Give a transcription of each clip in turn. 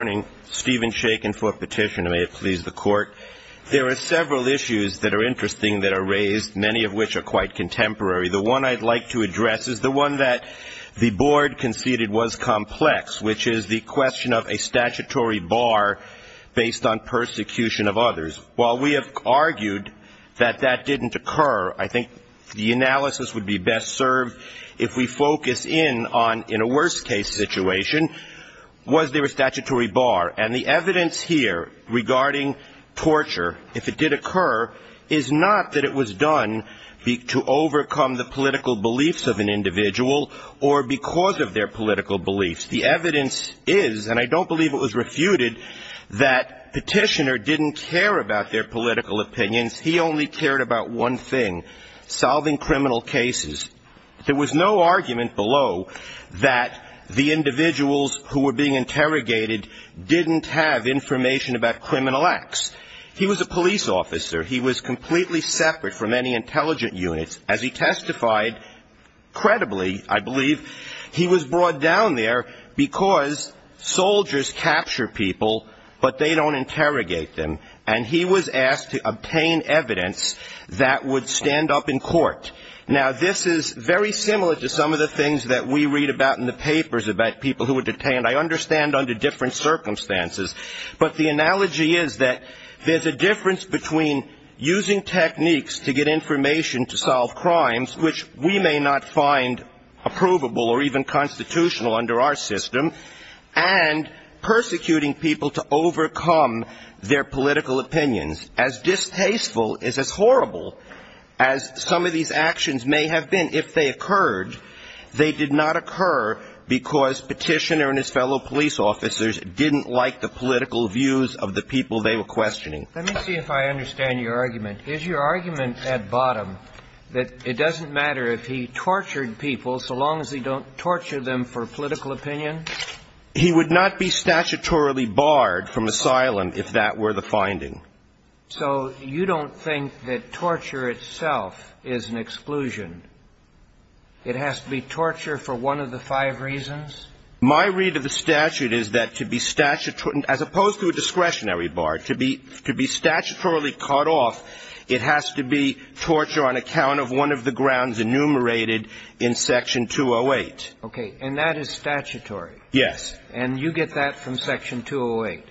There are several issues that are interesting that are raised, many of which are quite contemporary. The one I'd like to address is the one that the board conceded was complex, which is the question of a statutory bar based on persecution of others. While we have argued that that didn't occur, I think the analysis would be best served if we focus in on, in a worst-case situation, was there a statutory bar? And the evidence here regarding torture, if it did occur, is not that it was done to overcome the political beliefs of an individual or because of their political beliefs. The evidence is, and I don't believe it was refuted, that Petitioner didn't care about their political opinions. He only cared about one thing, solving criminal cases. There was no argument below that the individuals who were being interrogated didn't have information about criminal acts. He was a police officer. He was completely separate from any intelligent units. As he testified, credibly, I believe, he was brought down there because soldiers capture people, but they don't interrogate them. And he was asked to obtain evidence that would stand up in court. Now, this is very similar to some of the things that we read about in the papers about people who were detained, I understand, under different circumstances. But the analogy is that there's a difference between using techniques to get information to solve crimes, which we may not find approvable or even constitutional under our system, and persecuting people to overcome their political opinions. As distasteful, as horrible, as some of these actions may have been if they occurred, they did not occur because Petitioner and his fellow police officers didn't like the political views of the people they were questioning. Let me see if I understand your argument. Is your argument at bottom that it doesn't matter if he tortured people so long as he don't torture them for political opinion? He would not be statutorily barred from asylum if that were the finding. So you don't think that torture itself is an exclusion? It has to be torture for one of the five reasons? My read of the statute is that to be statutory, as opposed to a discretionary bar, to be statutorily cut off, it has to be torture on account of one of the grounds enumerated in Section 208. Okay. And that is statutory? Yes. And you get that from Section 208?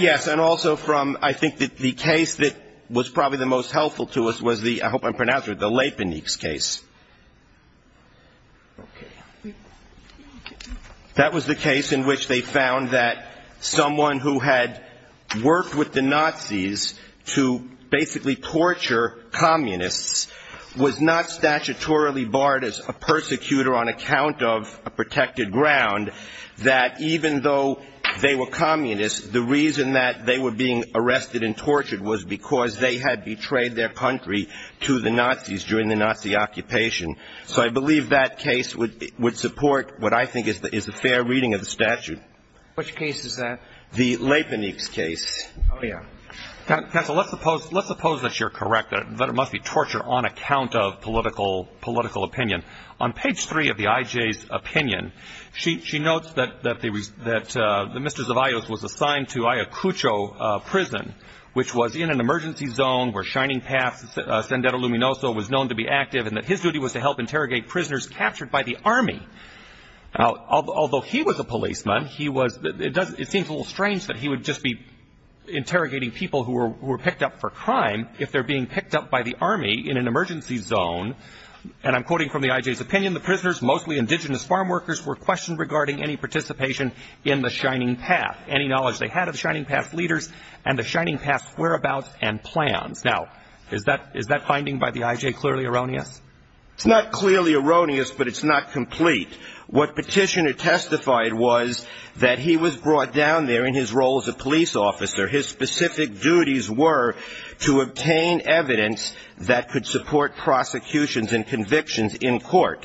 Yes. And also from, I think, the case that was probably the most helpful to us was the, I hope I'm pronouncing it right, the Leipnitz case. Okay. That was the case in which they found that someone who had worked with the Nazis to basically torture communists was not statutorily barred as a persecutor on account of a protected ground, that even though they were communists, the reason that they were being arrested and tortured was because they had betrayed their country to the Nazis during the Nazi occupation. So I believe that case would support what I think is a fair reading of the statute. Which case is that? The Leipnitz case. Oh, yeah. Counsel, let's suppose that you're correct, that it must be torture on account of political opinion. On page three of the IJ's opinion, she notes that the Mr. Zavaios was assigned to Ayacucho Prison, which was in an emergency zone where Shining Path, Sendero Luminoso, was known to be active, and that his duty was to help interrogate prisoners captured by the Army. Although he was a policeman, he was, it seems a little strange that he would just be interrogating people who were picked up for crime if they're being picked up by the Army in an emergency zone. And I'm quoting from the IJ's opinion, the prisoners, mostly indigenous farm workers, were questioned regarding any participation in the Shining Path, any knowledge they had of Shining Path's leaders and the Shining Path's whereabouts and plans. Now, is that finding by the IJ clearly erroneous? It's not clearly erroneous, but it's not complete. What Petitioner testified was that he was brought down there in his role as a police officer. His specific duties were to obtain evidence that could support prosecutions and convictions in court.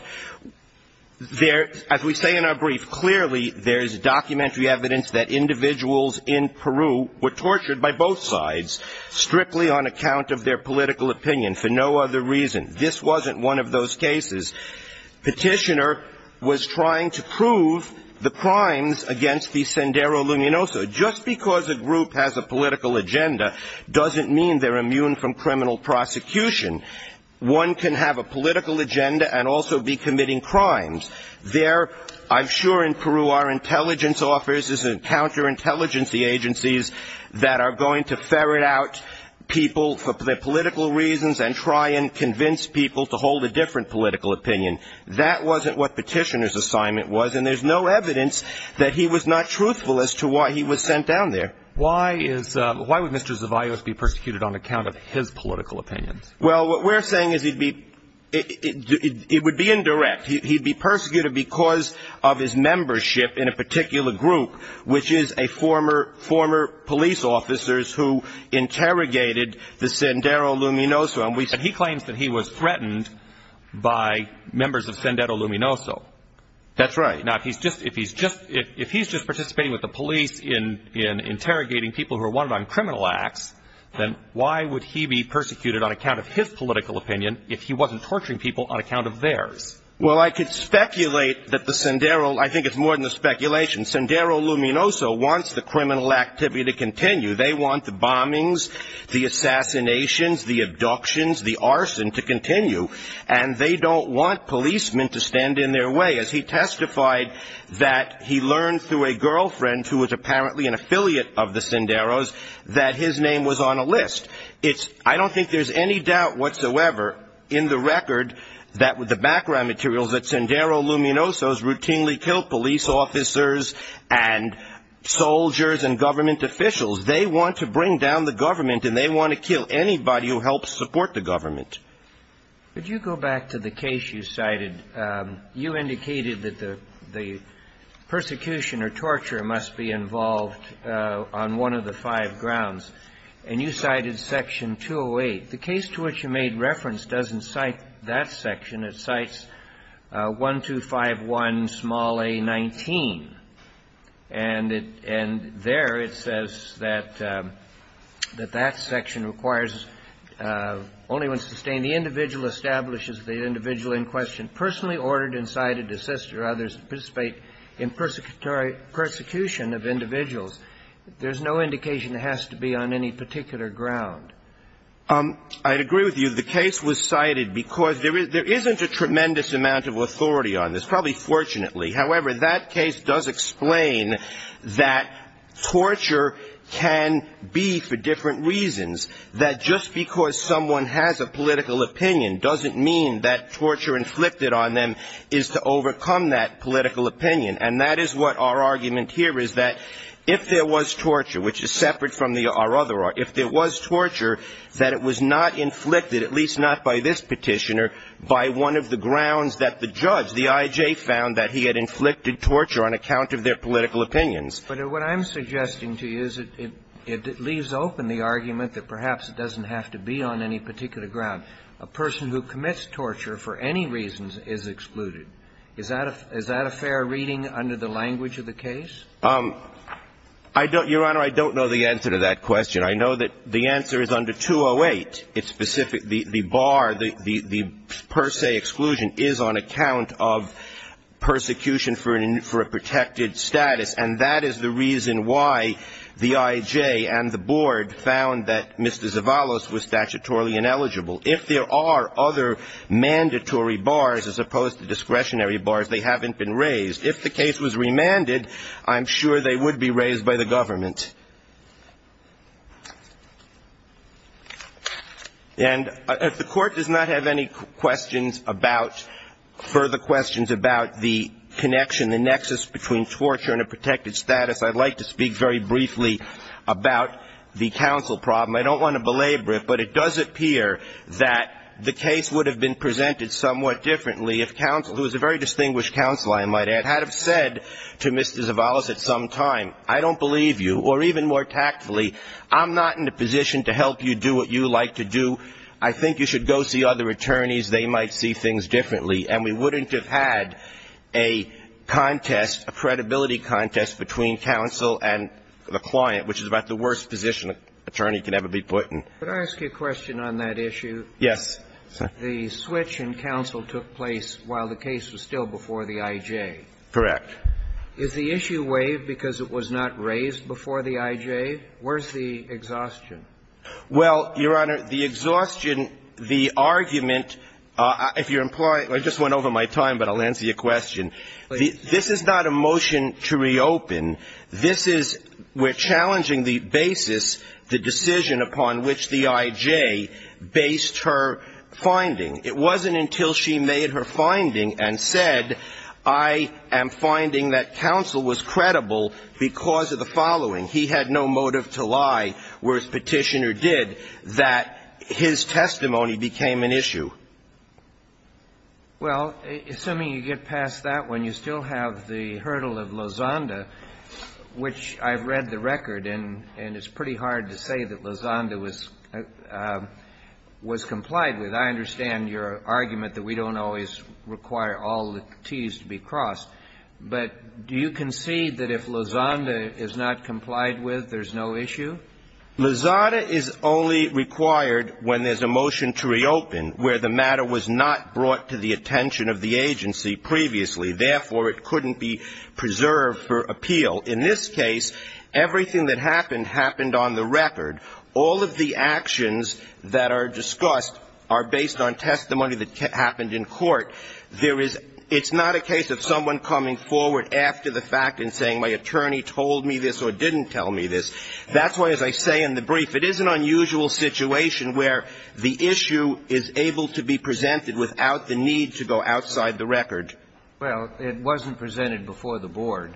There, as we say in our brief, clearly there's documentary evidence that individuals in Peru were tortured by both sides, strictly on account of their political opinion, for no other reason. This wasn't one of those cases. Petitioner was trying to prove the crimes against the Sendero Luminoso. Just because a group has a political agenda doesn't mean they're immune from criminal prosecution. One can have a political agenda and also be committing crimes. There, I'm sure in Peru, our intelligence officers and counterintelligence agencies that are going to ferret out people for their political reasons and try and convince people to hold a different political opinion. That wasn't what Petitioner's assignment was, and there's no evidence that he was not truthful as to why he was sent down there. Why would Mr. Zavaios be persecuted on account of his political opinions? Well, what we're saying is it would be indirect. He'd be persecuted because of his membership in a particular group, which is former police officers who interrogated the Sendero Luminoso. And he claims that he was threatened by members of Sendero Luminoso. That's right. Now, if he's just participating with the police in interrogating people who are wanted on criminal acts, then why would he be persecuted on account of his political opinion if he wasn't torturing people on account of theirs? Well, I could speculate that the Sendero, I think it's more than a speculation. Sendero Luminoso wants the criminal activity to continue. They want the bombings, the assassinations, the abductions, the arson to continue. And they don't want policemen to stand in their way, as he testified that he learned through a girlfriend, who was apparently an affiliate of the Senderos, that his name was on a list. I don't think there's any doubt whatsoever in the record, the background materials, that Sendero Luminoso has routinely killed police officers and soldiers and government officials. They want to bring down the government, and they want to kill anybody who helps support the government. Could you go back to the case you cited? You indicated that the persecution or torture must be involved on one of the five grounds. And you cited Section 208. The case to which you made reference doesn't cite that section. It cites 1251 small a 19. And there it says that that section requires only when sustained the individual establishes the individual in question personally ordered and cited to assist or others to participate in persecution of individuals. There's no indication it has to be on any particular ground. I agree with you. The case was cited because there isn't a tremendous amount of authority on this, probably fortunately. However, that case does explain that torture can be for different reasons, that just because someone has a political opinion doesn't mean that torture inflicted on them is to overcome that political opinion. And that is what our argument here is that if there was torture, which is separate from our other argument, if there was torture, that it was not inflicted, at least not by this petitioner, by one of the grounds that the judge, the I.J., found that he had inflicted torture on account of their political opinions. But what I'm suggesting to you is it leaves open the argument that perhaps it doesn't have to be on any particular ground. A person who commits torture for any reasons is excluded. Is that a fair reading under the language of the case? Your Honor, I don't know the answer to that question. I know that the answer is under 208. It's specific. The bar, the per se exclusion is on account of persecution for a protected status. And that is the reason why the I.J. and the board found that Mr. Zavalos was statutorily ineligible. If there are other mandatory bars as opposed to discretionary bars, they haven't been raised. If the case was remanded, I'm sure they would be raised by the government. And if the Court does not have any questions about, further questions about the connection, the nexus between torture and a protected status, I'd like to speak very briefly about the counsel problem. I don't want to belabor it, but it does appear that the case would have been presented somewhat differently if counsel, who is a very distinguished counsel, I might add, had have said to Mr. Zavalos at some time, I don't believe you, or even more tactfully, I'm not in a position to help you do what you like to do. I think you should go see other attorneys. They might see things differently. And we wouldn't have had a contest, a credibility contest between counsel and the client, which is about the worst position an attorney can ever be put in. Could I ask you a question on that issue? Yes. The switch in counsel took place while the case was still before the I.J. Correct. Is the issue waived because it was not raised before the I.J.? Where's the exhaustion? Well, Your Honor, the exhaustion, the argument, if you're implying – I just went over my time, but I'll answer your question. This is not a motion to reopen. This is – we're challenging the basis, the decision upon which the I.J. based her finding. It wasn't until she made her finding and said, I am finding that counsel was credible because of the following. He had no motive to lie, whereas Petitioner did, that his testimony became an issue. Well, assuming you get past that one, you still have the hurdle of Lozanda, which I've read the record, and it's pretty hard to say that Lozanda was complied with. I understand your argument that we don't always require all the Ts to be crossed. But do you concede that if Lozanda is not complied with, there's no issue? Lozanda is only required when there's a motion to reopen where the matter was not brought to the attention of the agency previously. Therefore, it couldn't be preserved for appeal. In this case, everything that happened happened on the record. All of the actions that are discussed are based on testimony that happened in court. There is – it's not a case of someone coming forward after the fact and saying, my attorney told me this or didn't tell me this. That's why, as I say in the brief, it is an unusual situation where the issue is able to be presented without the need to go outside the record. Well, it wasn't presented before the board.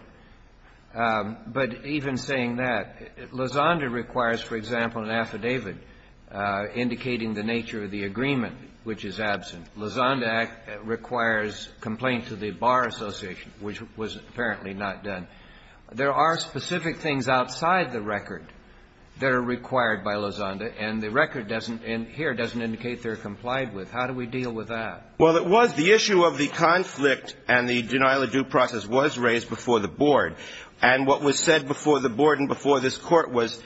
But even saying that, Lozanda requires, for example, an affidavit indicating the nature of the agreement, which is absent. Lozanda requires complaint to the Bar Association, which was apparently not done. There are specific things outside the record that are required by Lozanda, and the record doesn't – and here doesn't indicate they're complied with. How do we deal with that? Well, it was the issue of the conflict and the denial of due process was raised before the board. And what was said before the board and before this Court was,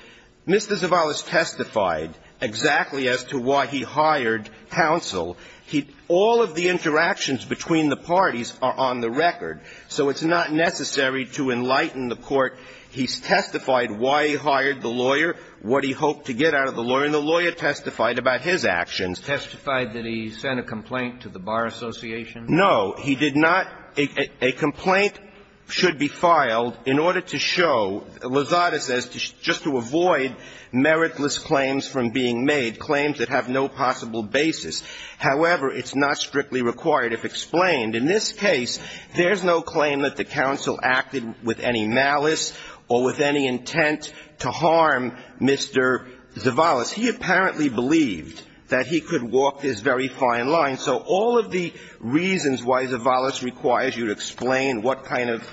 Mr. Zavalos testified exactly as to why he hired counsel. He – all of the interactions between the parties are on the record, so it's not necessary to enlighten the Court. He testified why he hired the lawyer, what he hoped to get out of the lawyer, and the lawyer testified about his actions. Testified that he sent a complaint to the Bar Association? No. He did not – a complaint should be filed in order to show – Lozanda says just to avoid meritless claims from being made, claims that have no possible basis. However, it's not strictly required if explained. In this case, there's no claim that the counsel acted with any malice or with any intent to harm Mr. Zavalos. He apparently believed that he could walk this very fine line. So all of the reasons why Zavalos requires you to explain what kind of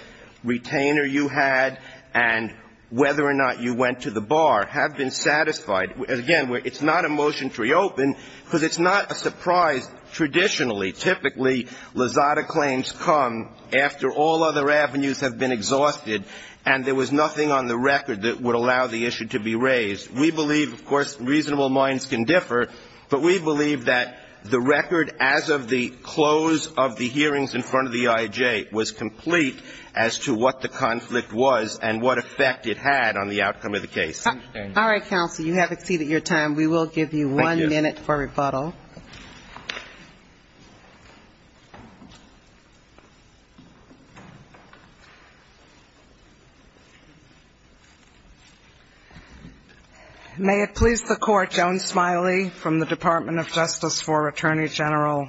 retainer you had and whether or not you went to the bar have been satisfied. Again, it's not a motion to reopen because it's not a surprise. Traditionally, typically, Lozada claims come after all other avenues have been exhausted and there was nothing on the record that would allow the issue to be raised. We believe, of course, reasonable minds can differ, but we believe that the record as of the close of the hearings in front of the IAJ was complete as to what the conflict was and what effect it had on the outcome of the case. All right, counsel. You have exceeded your time. We will give you one minute for rebuttal. Thank you. May it please the Court, Joan Smiley from the Department of Justice for Attorney General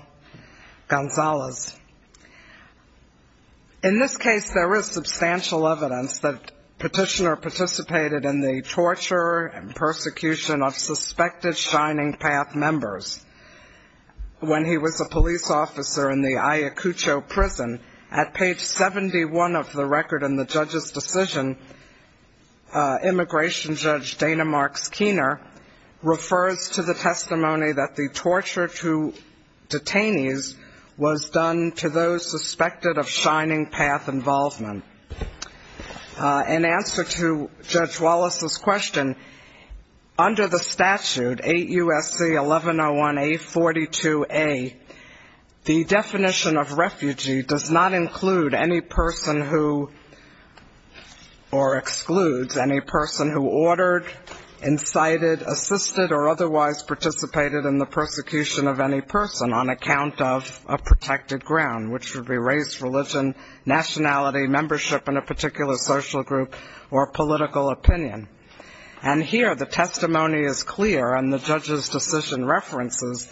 Gonzales. In this case, there is substantial evidence that Petitioner participated in the torture and persecution of suspected Shining Path members. When he was a police officer in the Ayacucho prison, at page 71 of the record in the judge's decision, Immigration Judge Dana Marks Keener refers to the testimony that the torture to detainees was done to those suspected of Shining Path involvement. In answer to Judge Wallace's question, under the statute, 8 U.S.C. 1101A.42a, the definition of refugee does not include any person who, or excludes any person who ordered, incited, assisted, or otherwise participated in the persecution of any person on account of a protected ground, which would be race, religion, nationality, membership in a particular social group, or political opinion. And here, the testimony is clear, and the judge's decision references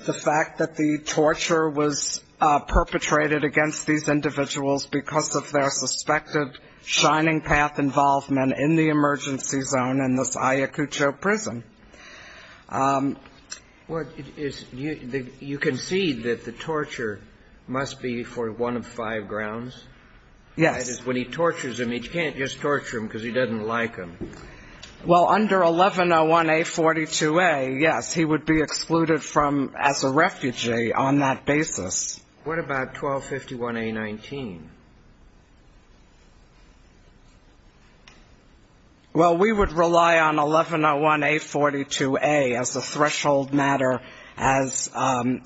the fact that the torture was perpetrated against these individuals because of their suspected Shining Path involvement in the emergency zone in this Ayacucho prison. Well, you concede that the torture must be for one of five grounds? Yes. That is, when he tortures him, you can't just torture him because he doesn't like him. Well, under 1101A.42a, yes, he would be excluded as a refugee on that basis. What about 1251A.19? Well, we would rely on 1101A.42a as a threshold matter, as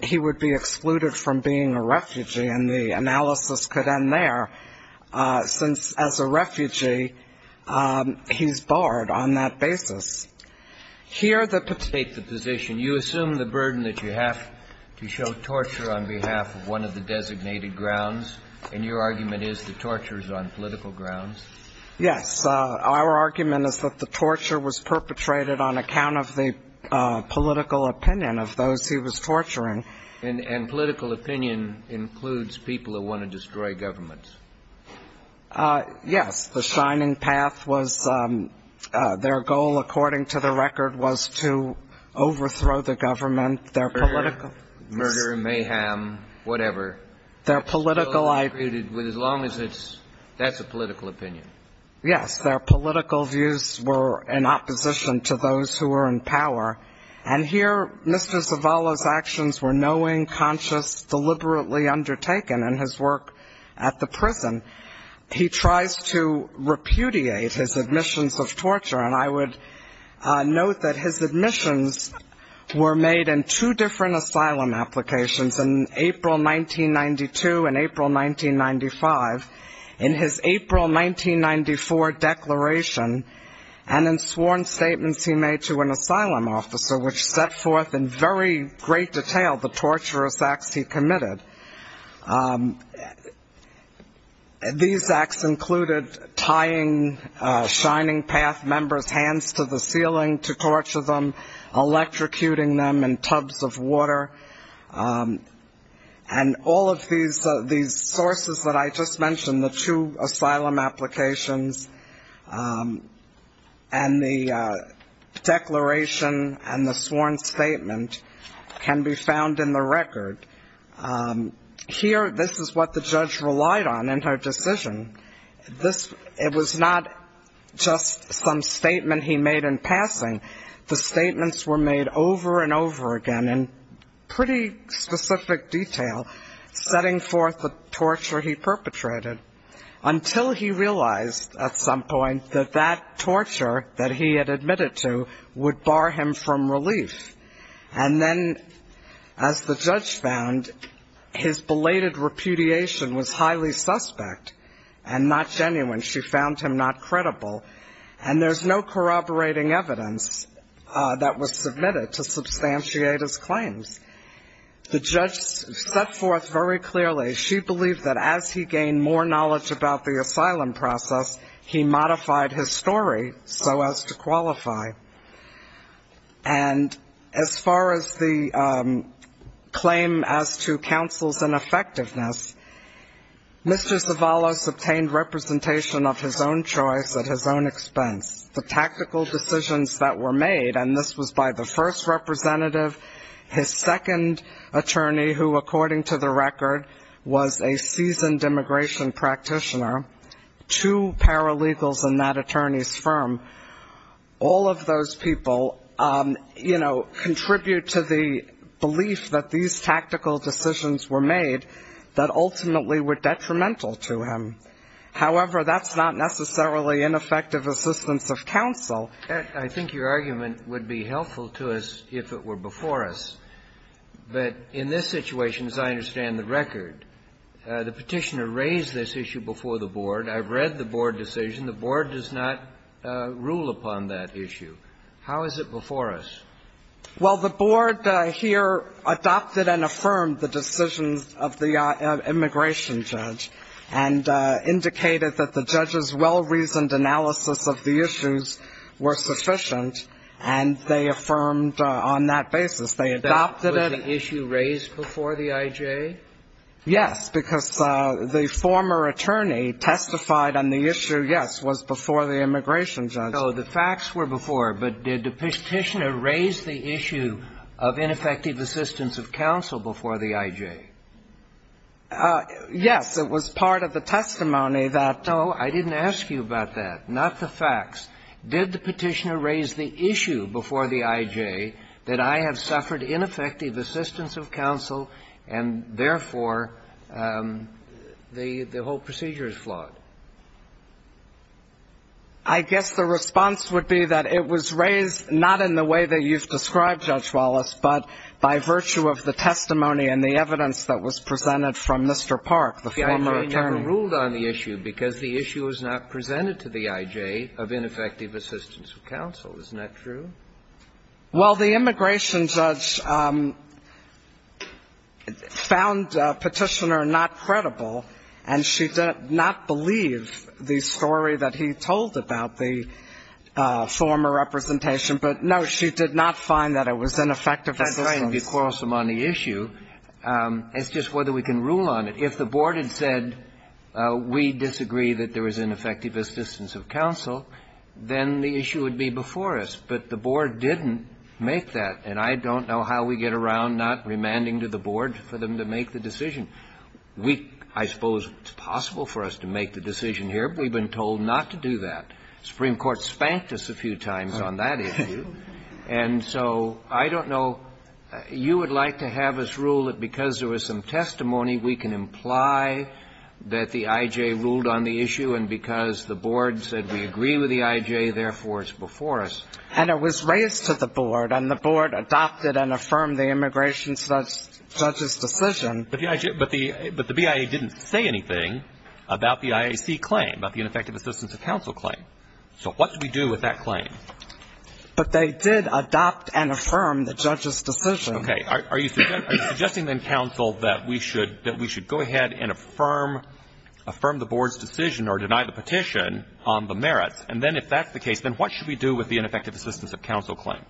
he would be excluded from being a refugee, and the analysis could end there, since as a refugee, he's barred on that basis. Here, the position, you assume the burden that you have to show torture on behalf of one of the designated grounds, and your argument is the torture is on political grounds? Yes. Our argument is that the torture was perpetrated on account of the political opinion of those he was torturing. And political opinion includes people who want to destroy governments? Yes. The Shining Path, their goal, according to the record, was to overthrow the government. Murder, mayhem, whatever. That's a political opinion. Yes. Their political views were in opposition to those who were in power, and here Mr. Zavala's actions were knowing, conscious, deliberately undertaken, and his work at the prison, he tries to repudiate his admissions of torture, and I would note that his admissions were made in two different asylum applications, in April 1992 and April 1995. In his April 1994 declaration, and in sworn statements he made to an asylum officer, which set forth in very great detail the torturous acts he committed. These acts included tying Shining Path members' hands to the ceiling to torture them, electrocuting them in tubs of water, and all of these sources that I just mentioned, the two asylum applications, and the declaration and the sworn statement, can be found in the record. Here, this is what the judge relied on in her decision. It was not just some statement he made in passing. The statements were made over and over again in pretty specific detail, setting forth the torture he perpetrated, until he realized at some point that that torture that he had admitted to would bar him from relief. And then, as the judge found, his belated repudiation was highly suspect, and not genuine. She found him not credible, and there's no corroborating evidence that was submitted to substantiate his claims. The judge set forth very clearly, she believed that as he gained more knowledge about the asylum process, he modified his story so as to qualify. And as far as the claim as to counsel's ineffectiveness, Mr. Zavalos obtained representation of his own choice at his own expense. The tactical decisions that were made, and this was by the first representative, his second attorney, who, according to the record, was a seasoned immigration practitioner, two paralegals in that attorney's firm. All of those people, you know, contribute to the belief that these tactical decisions were made that ultimately were detrimental to him. However, that's not necessarily ineffective assistance of counsel. I think your argument would be helpful to us if it were before us. But in this situation, as I understand the record, the petitioner raised this issue before the board. I've read the board decision. The board does not rule upon that issue. How is it before us? Well, the board here adopted and affirmed the decisions of the immigration judge, and indicated that the judge's well-reasoned analysis of the issues were sufficient, and they affirmed on that basis. They adopted it. Was the issue raised before the IJ? Yes, because the former attorney testified on the issue, yes, was before the immigration judge. So the facts were before, but did the petitioner raise the issue of ineffective assistance of counsel before the IJ? Yes. It was part of the testimony that. No, I didn't ask you about that, not the facts. Did the petitioner raise the issue before the IJ that I have suffered ineffective assistance of counsel, and therefore, the whole procedure is flawed? I guess the response would be that it was raised not in the way that you've described, Judge Wallace, but by virtue of the testimony and the evidence that was presented from Mr. Park, the former attorney. Well, the immigration judge never ruled on the issue because the issue was not presented to the IJ of ineffective assistance of counsel. Isn't that true? Well, the immigration judge found Petitioner not credible, and she did not believe the story that he told about the former representation. But, no, she did not find that it was ineffective assistance. That's right, and if you quarrel some on the issue, it's just whether we can rule on it. If the Board had said we disagree that there was ineffective assistance of counsel, then the issue would be before us. But the Board didn't make that, and I don't know how we get around not remanding to the Board for them to make the decision. We, I suppose it's possible for us to make the decision here, but we've been told not to do that. The Supreme Court spanked us a few times on that issue, and so I don't know. You would like to have us rule that because there was some testimony, we can imply that the IJ ruled on the issue, and because the Board said we agree with the IJ, therefore, it's before us. And it was raised to the Board, and the Board adopted and affirmed the immigration judge's decision. But the BIA didn't say anything about the IAC claim, about the ineffective assistance of counsel claim. So what do we do with that claim? But they did adopt and affirm the judge's decision. Okay. Are you suggesting then, counsel, that we should go ahead and affirm the Board's decision or deny the petition on the merits? And then if that's the case, then what should we do with the ineffective assistance of counsel claim?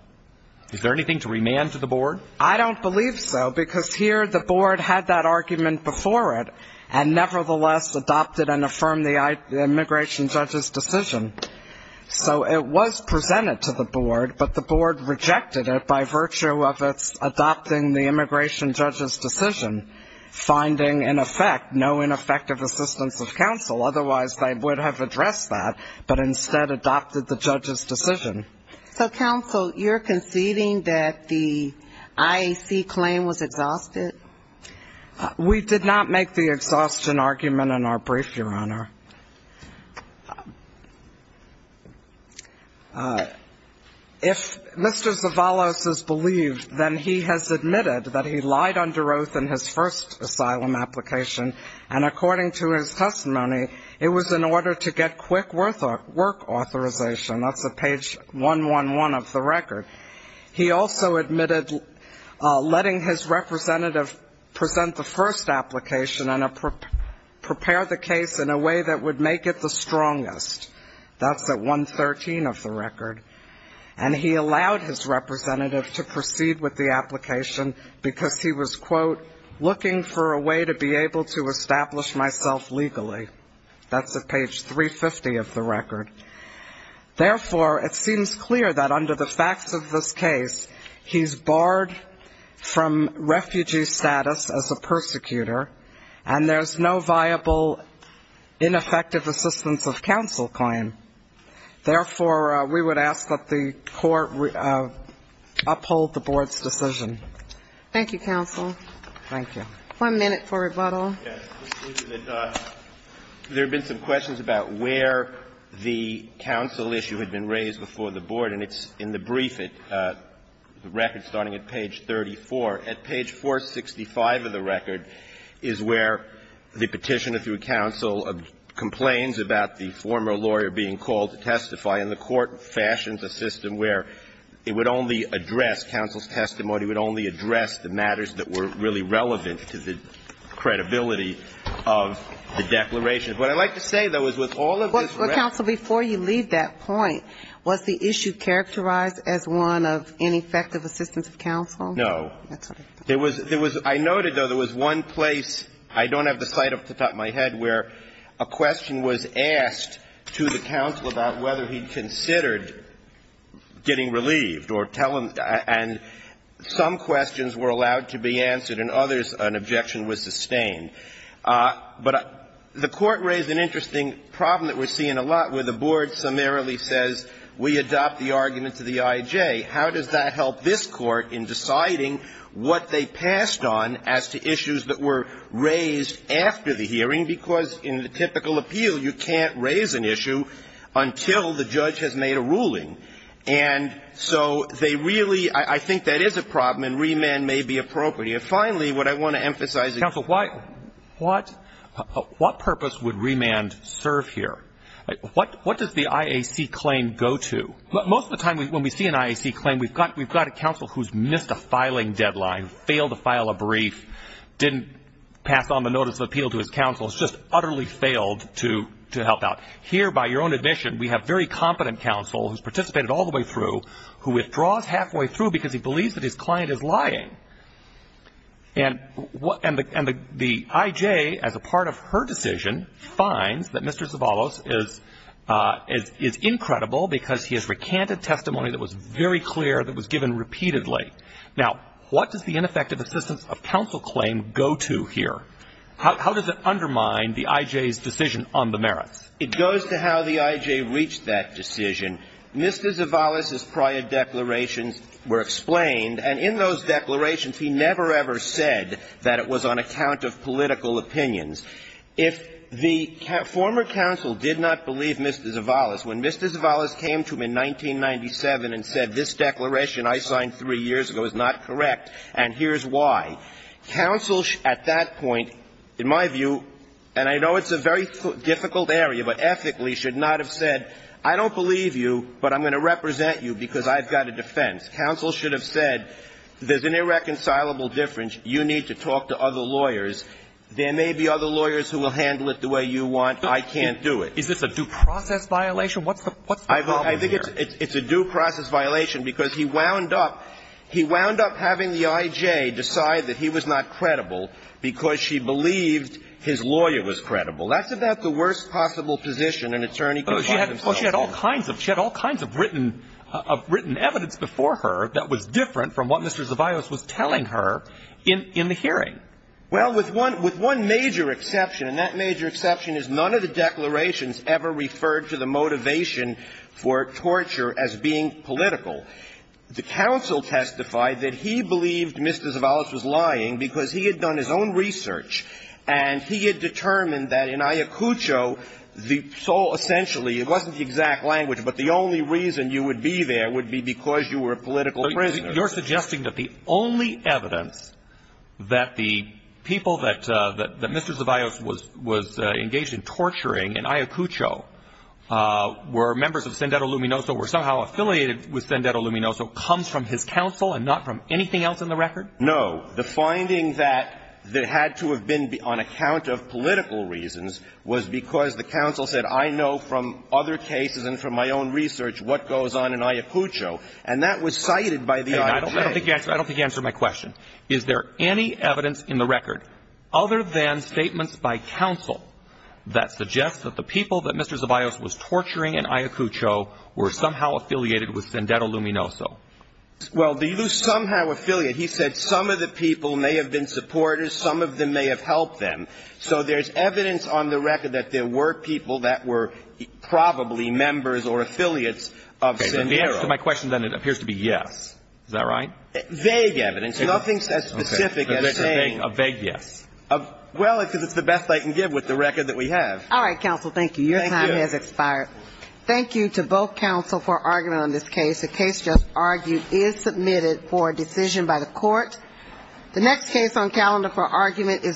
Is there anything to remand to the Board? I don't believe so, because here the Board had that argument before it, and nevertheless adopted and affirmed the immigration judge's decision. So it was presented to the Board, but the Board rejected it by virtue of its adopting the immigration judge's decision, finding in effect no ineffective assistance of counsel, otherwise they would have addressed that, but instead adopted the judge's decision. So, counsel, you're conceding that the IAC claim was exhausted? We did not make the exhaustion argument in our brief, Your Honor. If Mr. Zavalos has believed, then he has admitted that he lied under oath in his first asylum application, and according to his testimony, it was in order to get quick work authorization. That's at page 111 of the record. He also admitted letting his representative present the first application and prepare the case in a way that would make it the strongest. That's at 113 of the record. And he allowed his representative to proceed with the application because he was, quote, looking for a way to be able to establish myself legally. That's at page 350 of the record. Therefore, it seems clear that under the facts of this case, he's barred from refugee status as a persecutor, and there's no viable ineffective assistance of counsel claim. Therefore, we would ask that the Court uphold the Board's decision. Thank you, counsel. Thank you. One minute for rebuttal. There have been some questions about where the counsel issue had been raised before the Board, and it's in the brief, the record starting at page 34. At page 465 of the record is where the Petitioner, through counsel, complains about the former lawyer being called to testify. And the Court fashions a system where it would only address counsel's testimony, would only address the matters that were really relevant to the credibility of the declaration. What I'd like to say, though, is with all of this record ---- But, counsel, before you leave that point, was the issue characterized as one of ineffective assistance of counsel? That's what I thought. There was one place. I don't have the slide off the top of my head where a question was asked to the counsel about whether he considered getting relieved or telling them. And some questions were allowed to be answered and others an objection was sustained. But the Court raised an interesting problem that we're seeing a lot where the Board summarily says we adopt the argument to the I.J. How does that help this Court in deciding what they passed on as to issues that were raised after the hearing? Because in the typical appeal, you can't raise an issue until the judge has made a ruling. And so they really ---- I think that is a problem and remand may be appropriate. And finally, what I want to emphasize is ---- Counsel, why ---- what purpose would remand serve here? What does the IAC claim go to? Most of the time when we see an IAC claim, we've got a counsel who's missed a filing deadline, failed to file a brief, didn't pass on the notice of appeal to his counsel, has just utterly failed to help out. Here, by your own admission, we have very competent counsel who's participated all the way through, who withdraws halfway through because he believes that his client is lying. And the I.J., as a part of her decision, finds that Mr. Zavallos is incredible because he has recanted testimony that was very clear, that was given repeatedly. Now, what does the ineffective assistance of counsel claim go to here? How does it undermine the I.J.'s decision on the merits? It goes to how the I.J. reached that decision. Mr. Zavallos' prior declarations were explained. And in those declarations, he never, ever said that it was on account of political opinions. If the former counsel did not believe Mr. Zavallos, when Mr. Zavallos came to him in 1997 and said this declaration I signed three years ago is not correct and here's why, counsel, at that point, in my view, and I know it's a very difficult area, but ethically should not have said, I don't believe you, but I'm going to represent you because I've got a defense. Counsel should have said, there's an irreconcilable difference, you need to talk to other lawyers. There may be other lawyers who will handle it the way you want. I can't do it. Is this a due process violation? What's the problem here? I think it's a due process violation because he wound up, he wound up having the I.J. decide that he was not credible because she believed his lawyer was credible. That's about the worst possible position an attorney can find themselves in. Well, she had all kinds of written evidence before her that was different from what Mr. Zavallos was telling her in the hearing. Well, with one major exception, and that major exception is none of the declarations ever referred to the motivation for torture as being political. The counsel testified that he believed Mr. Zavallos was lying because he had done his own research and he had determined that in Ayacucho, the sole, essentially, it wasn't the exact language, but the only reason you would be there would be because you were a political prisoner. So you're suggesting that the only evidence that the people that Mr. Zavallos was engaged in torturing in Ayacucho were members of Sendero Luminoso, were somehow affiliated with Sendero Luminoso, comes from his counsel and not from anything else in the record? No. The finding that had to have been on account of political reasons was because the counsel said, I know from other cases and from my own research what goes on in Ayacucho. And that was cited by the IG. I don't think you answered my question. Is there any evidence in the record, other than statements by counsel, that suggests that the people that Mr. Zavallos was torturing in Ayacucho were somehow affiliated with Sendero Luminoso? Well, they do somehow affiliate. He said some of the people may have been supporters. Some of them may have helped them. So there's evidence on the record that there were people that were probably members or affiliates of Sendero. In the answer to my question, then, it appears to be yes. Is that right? Vague evidence. Nothing as specific as saying. A vague yes. Well, because it's the best I can give with the record that we have. All right, counsel. Thank you. Thank you. Your time has expired. Thank you to both counsel for argument on this case. The case just argued is submitted for decision by the Court. The next case on calendar for argument is.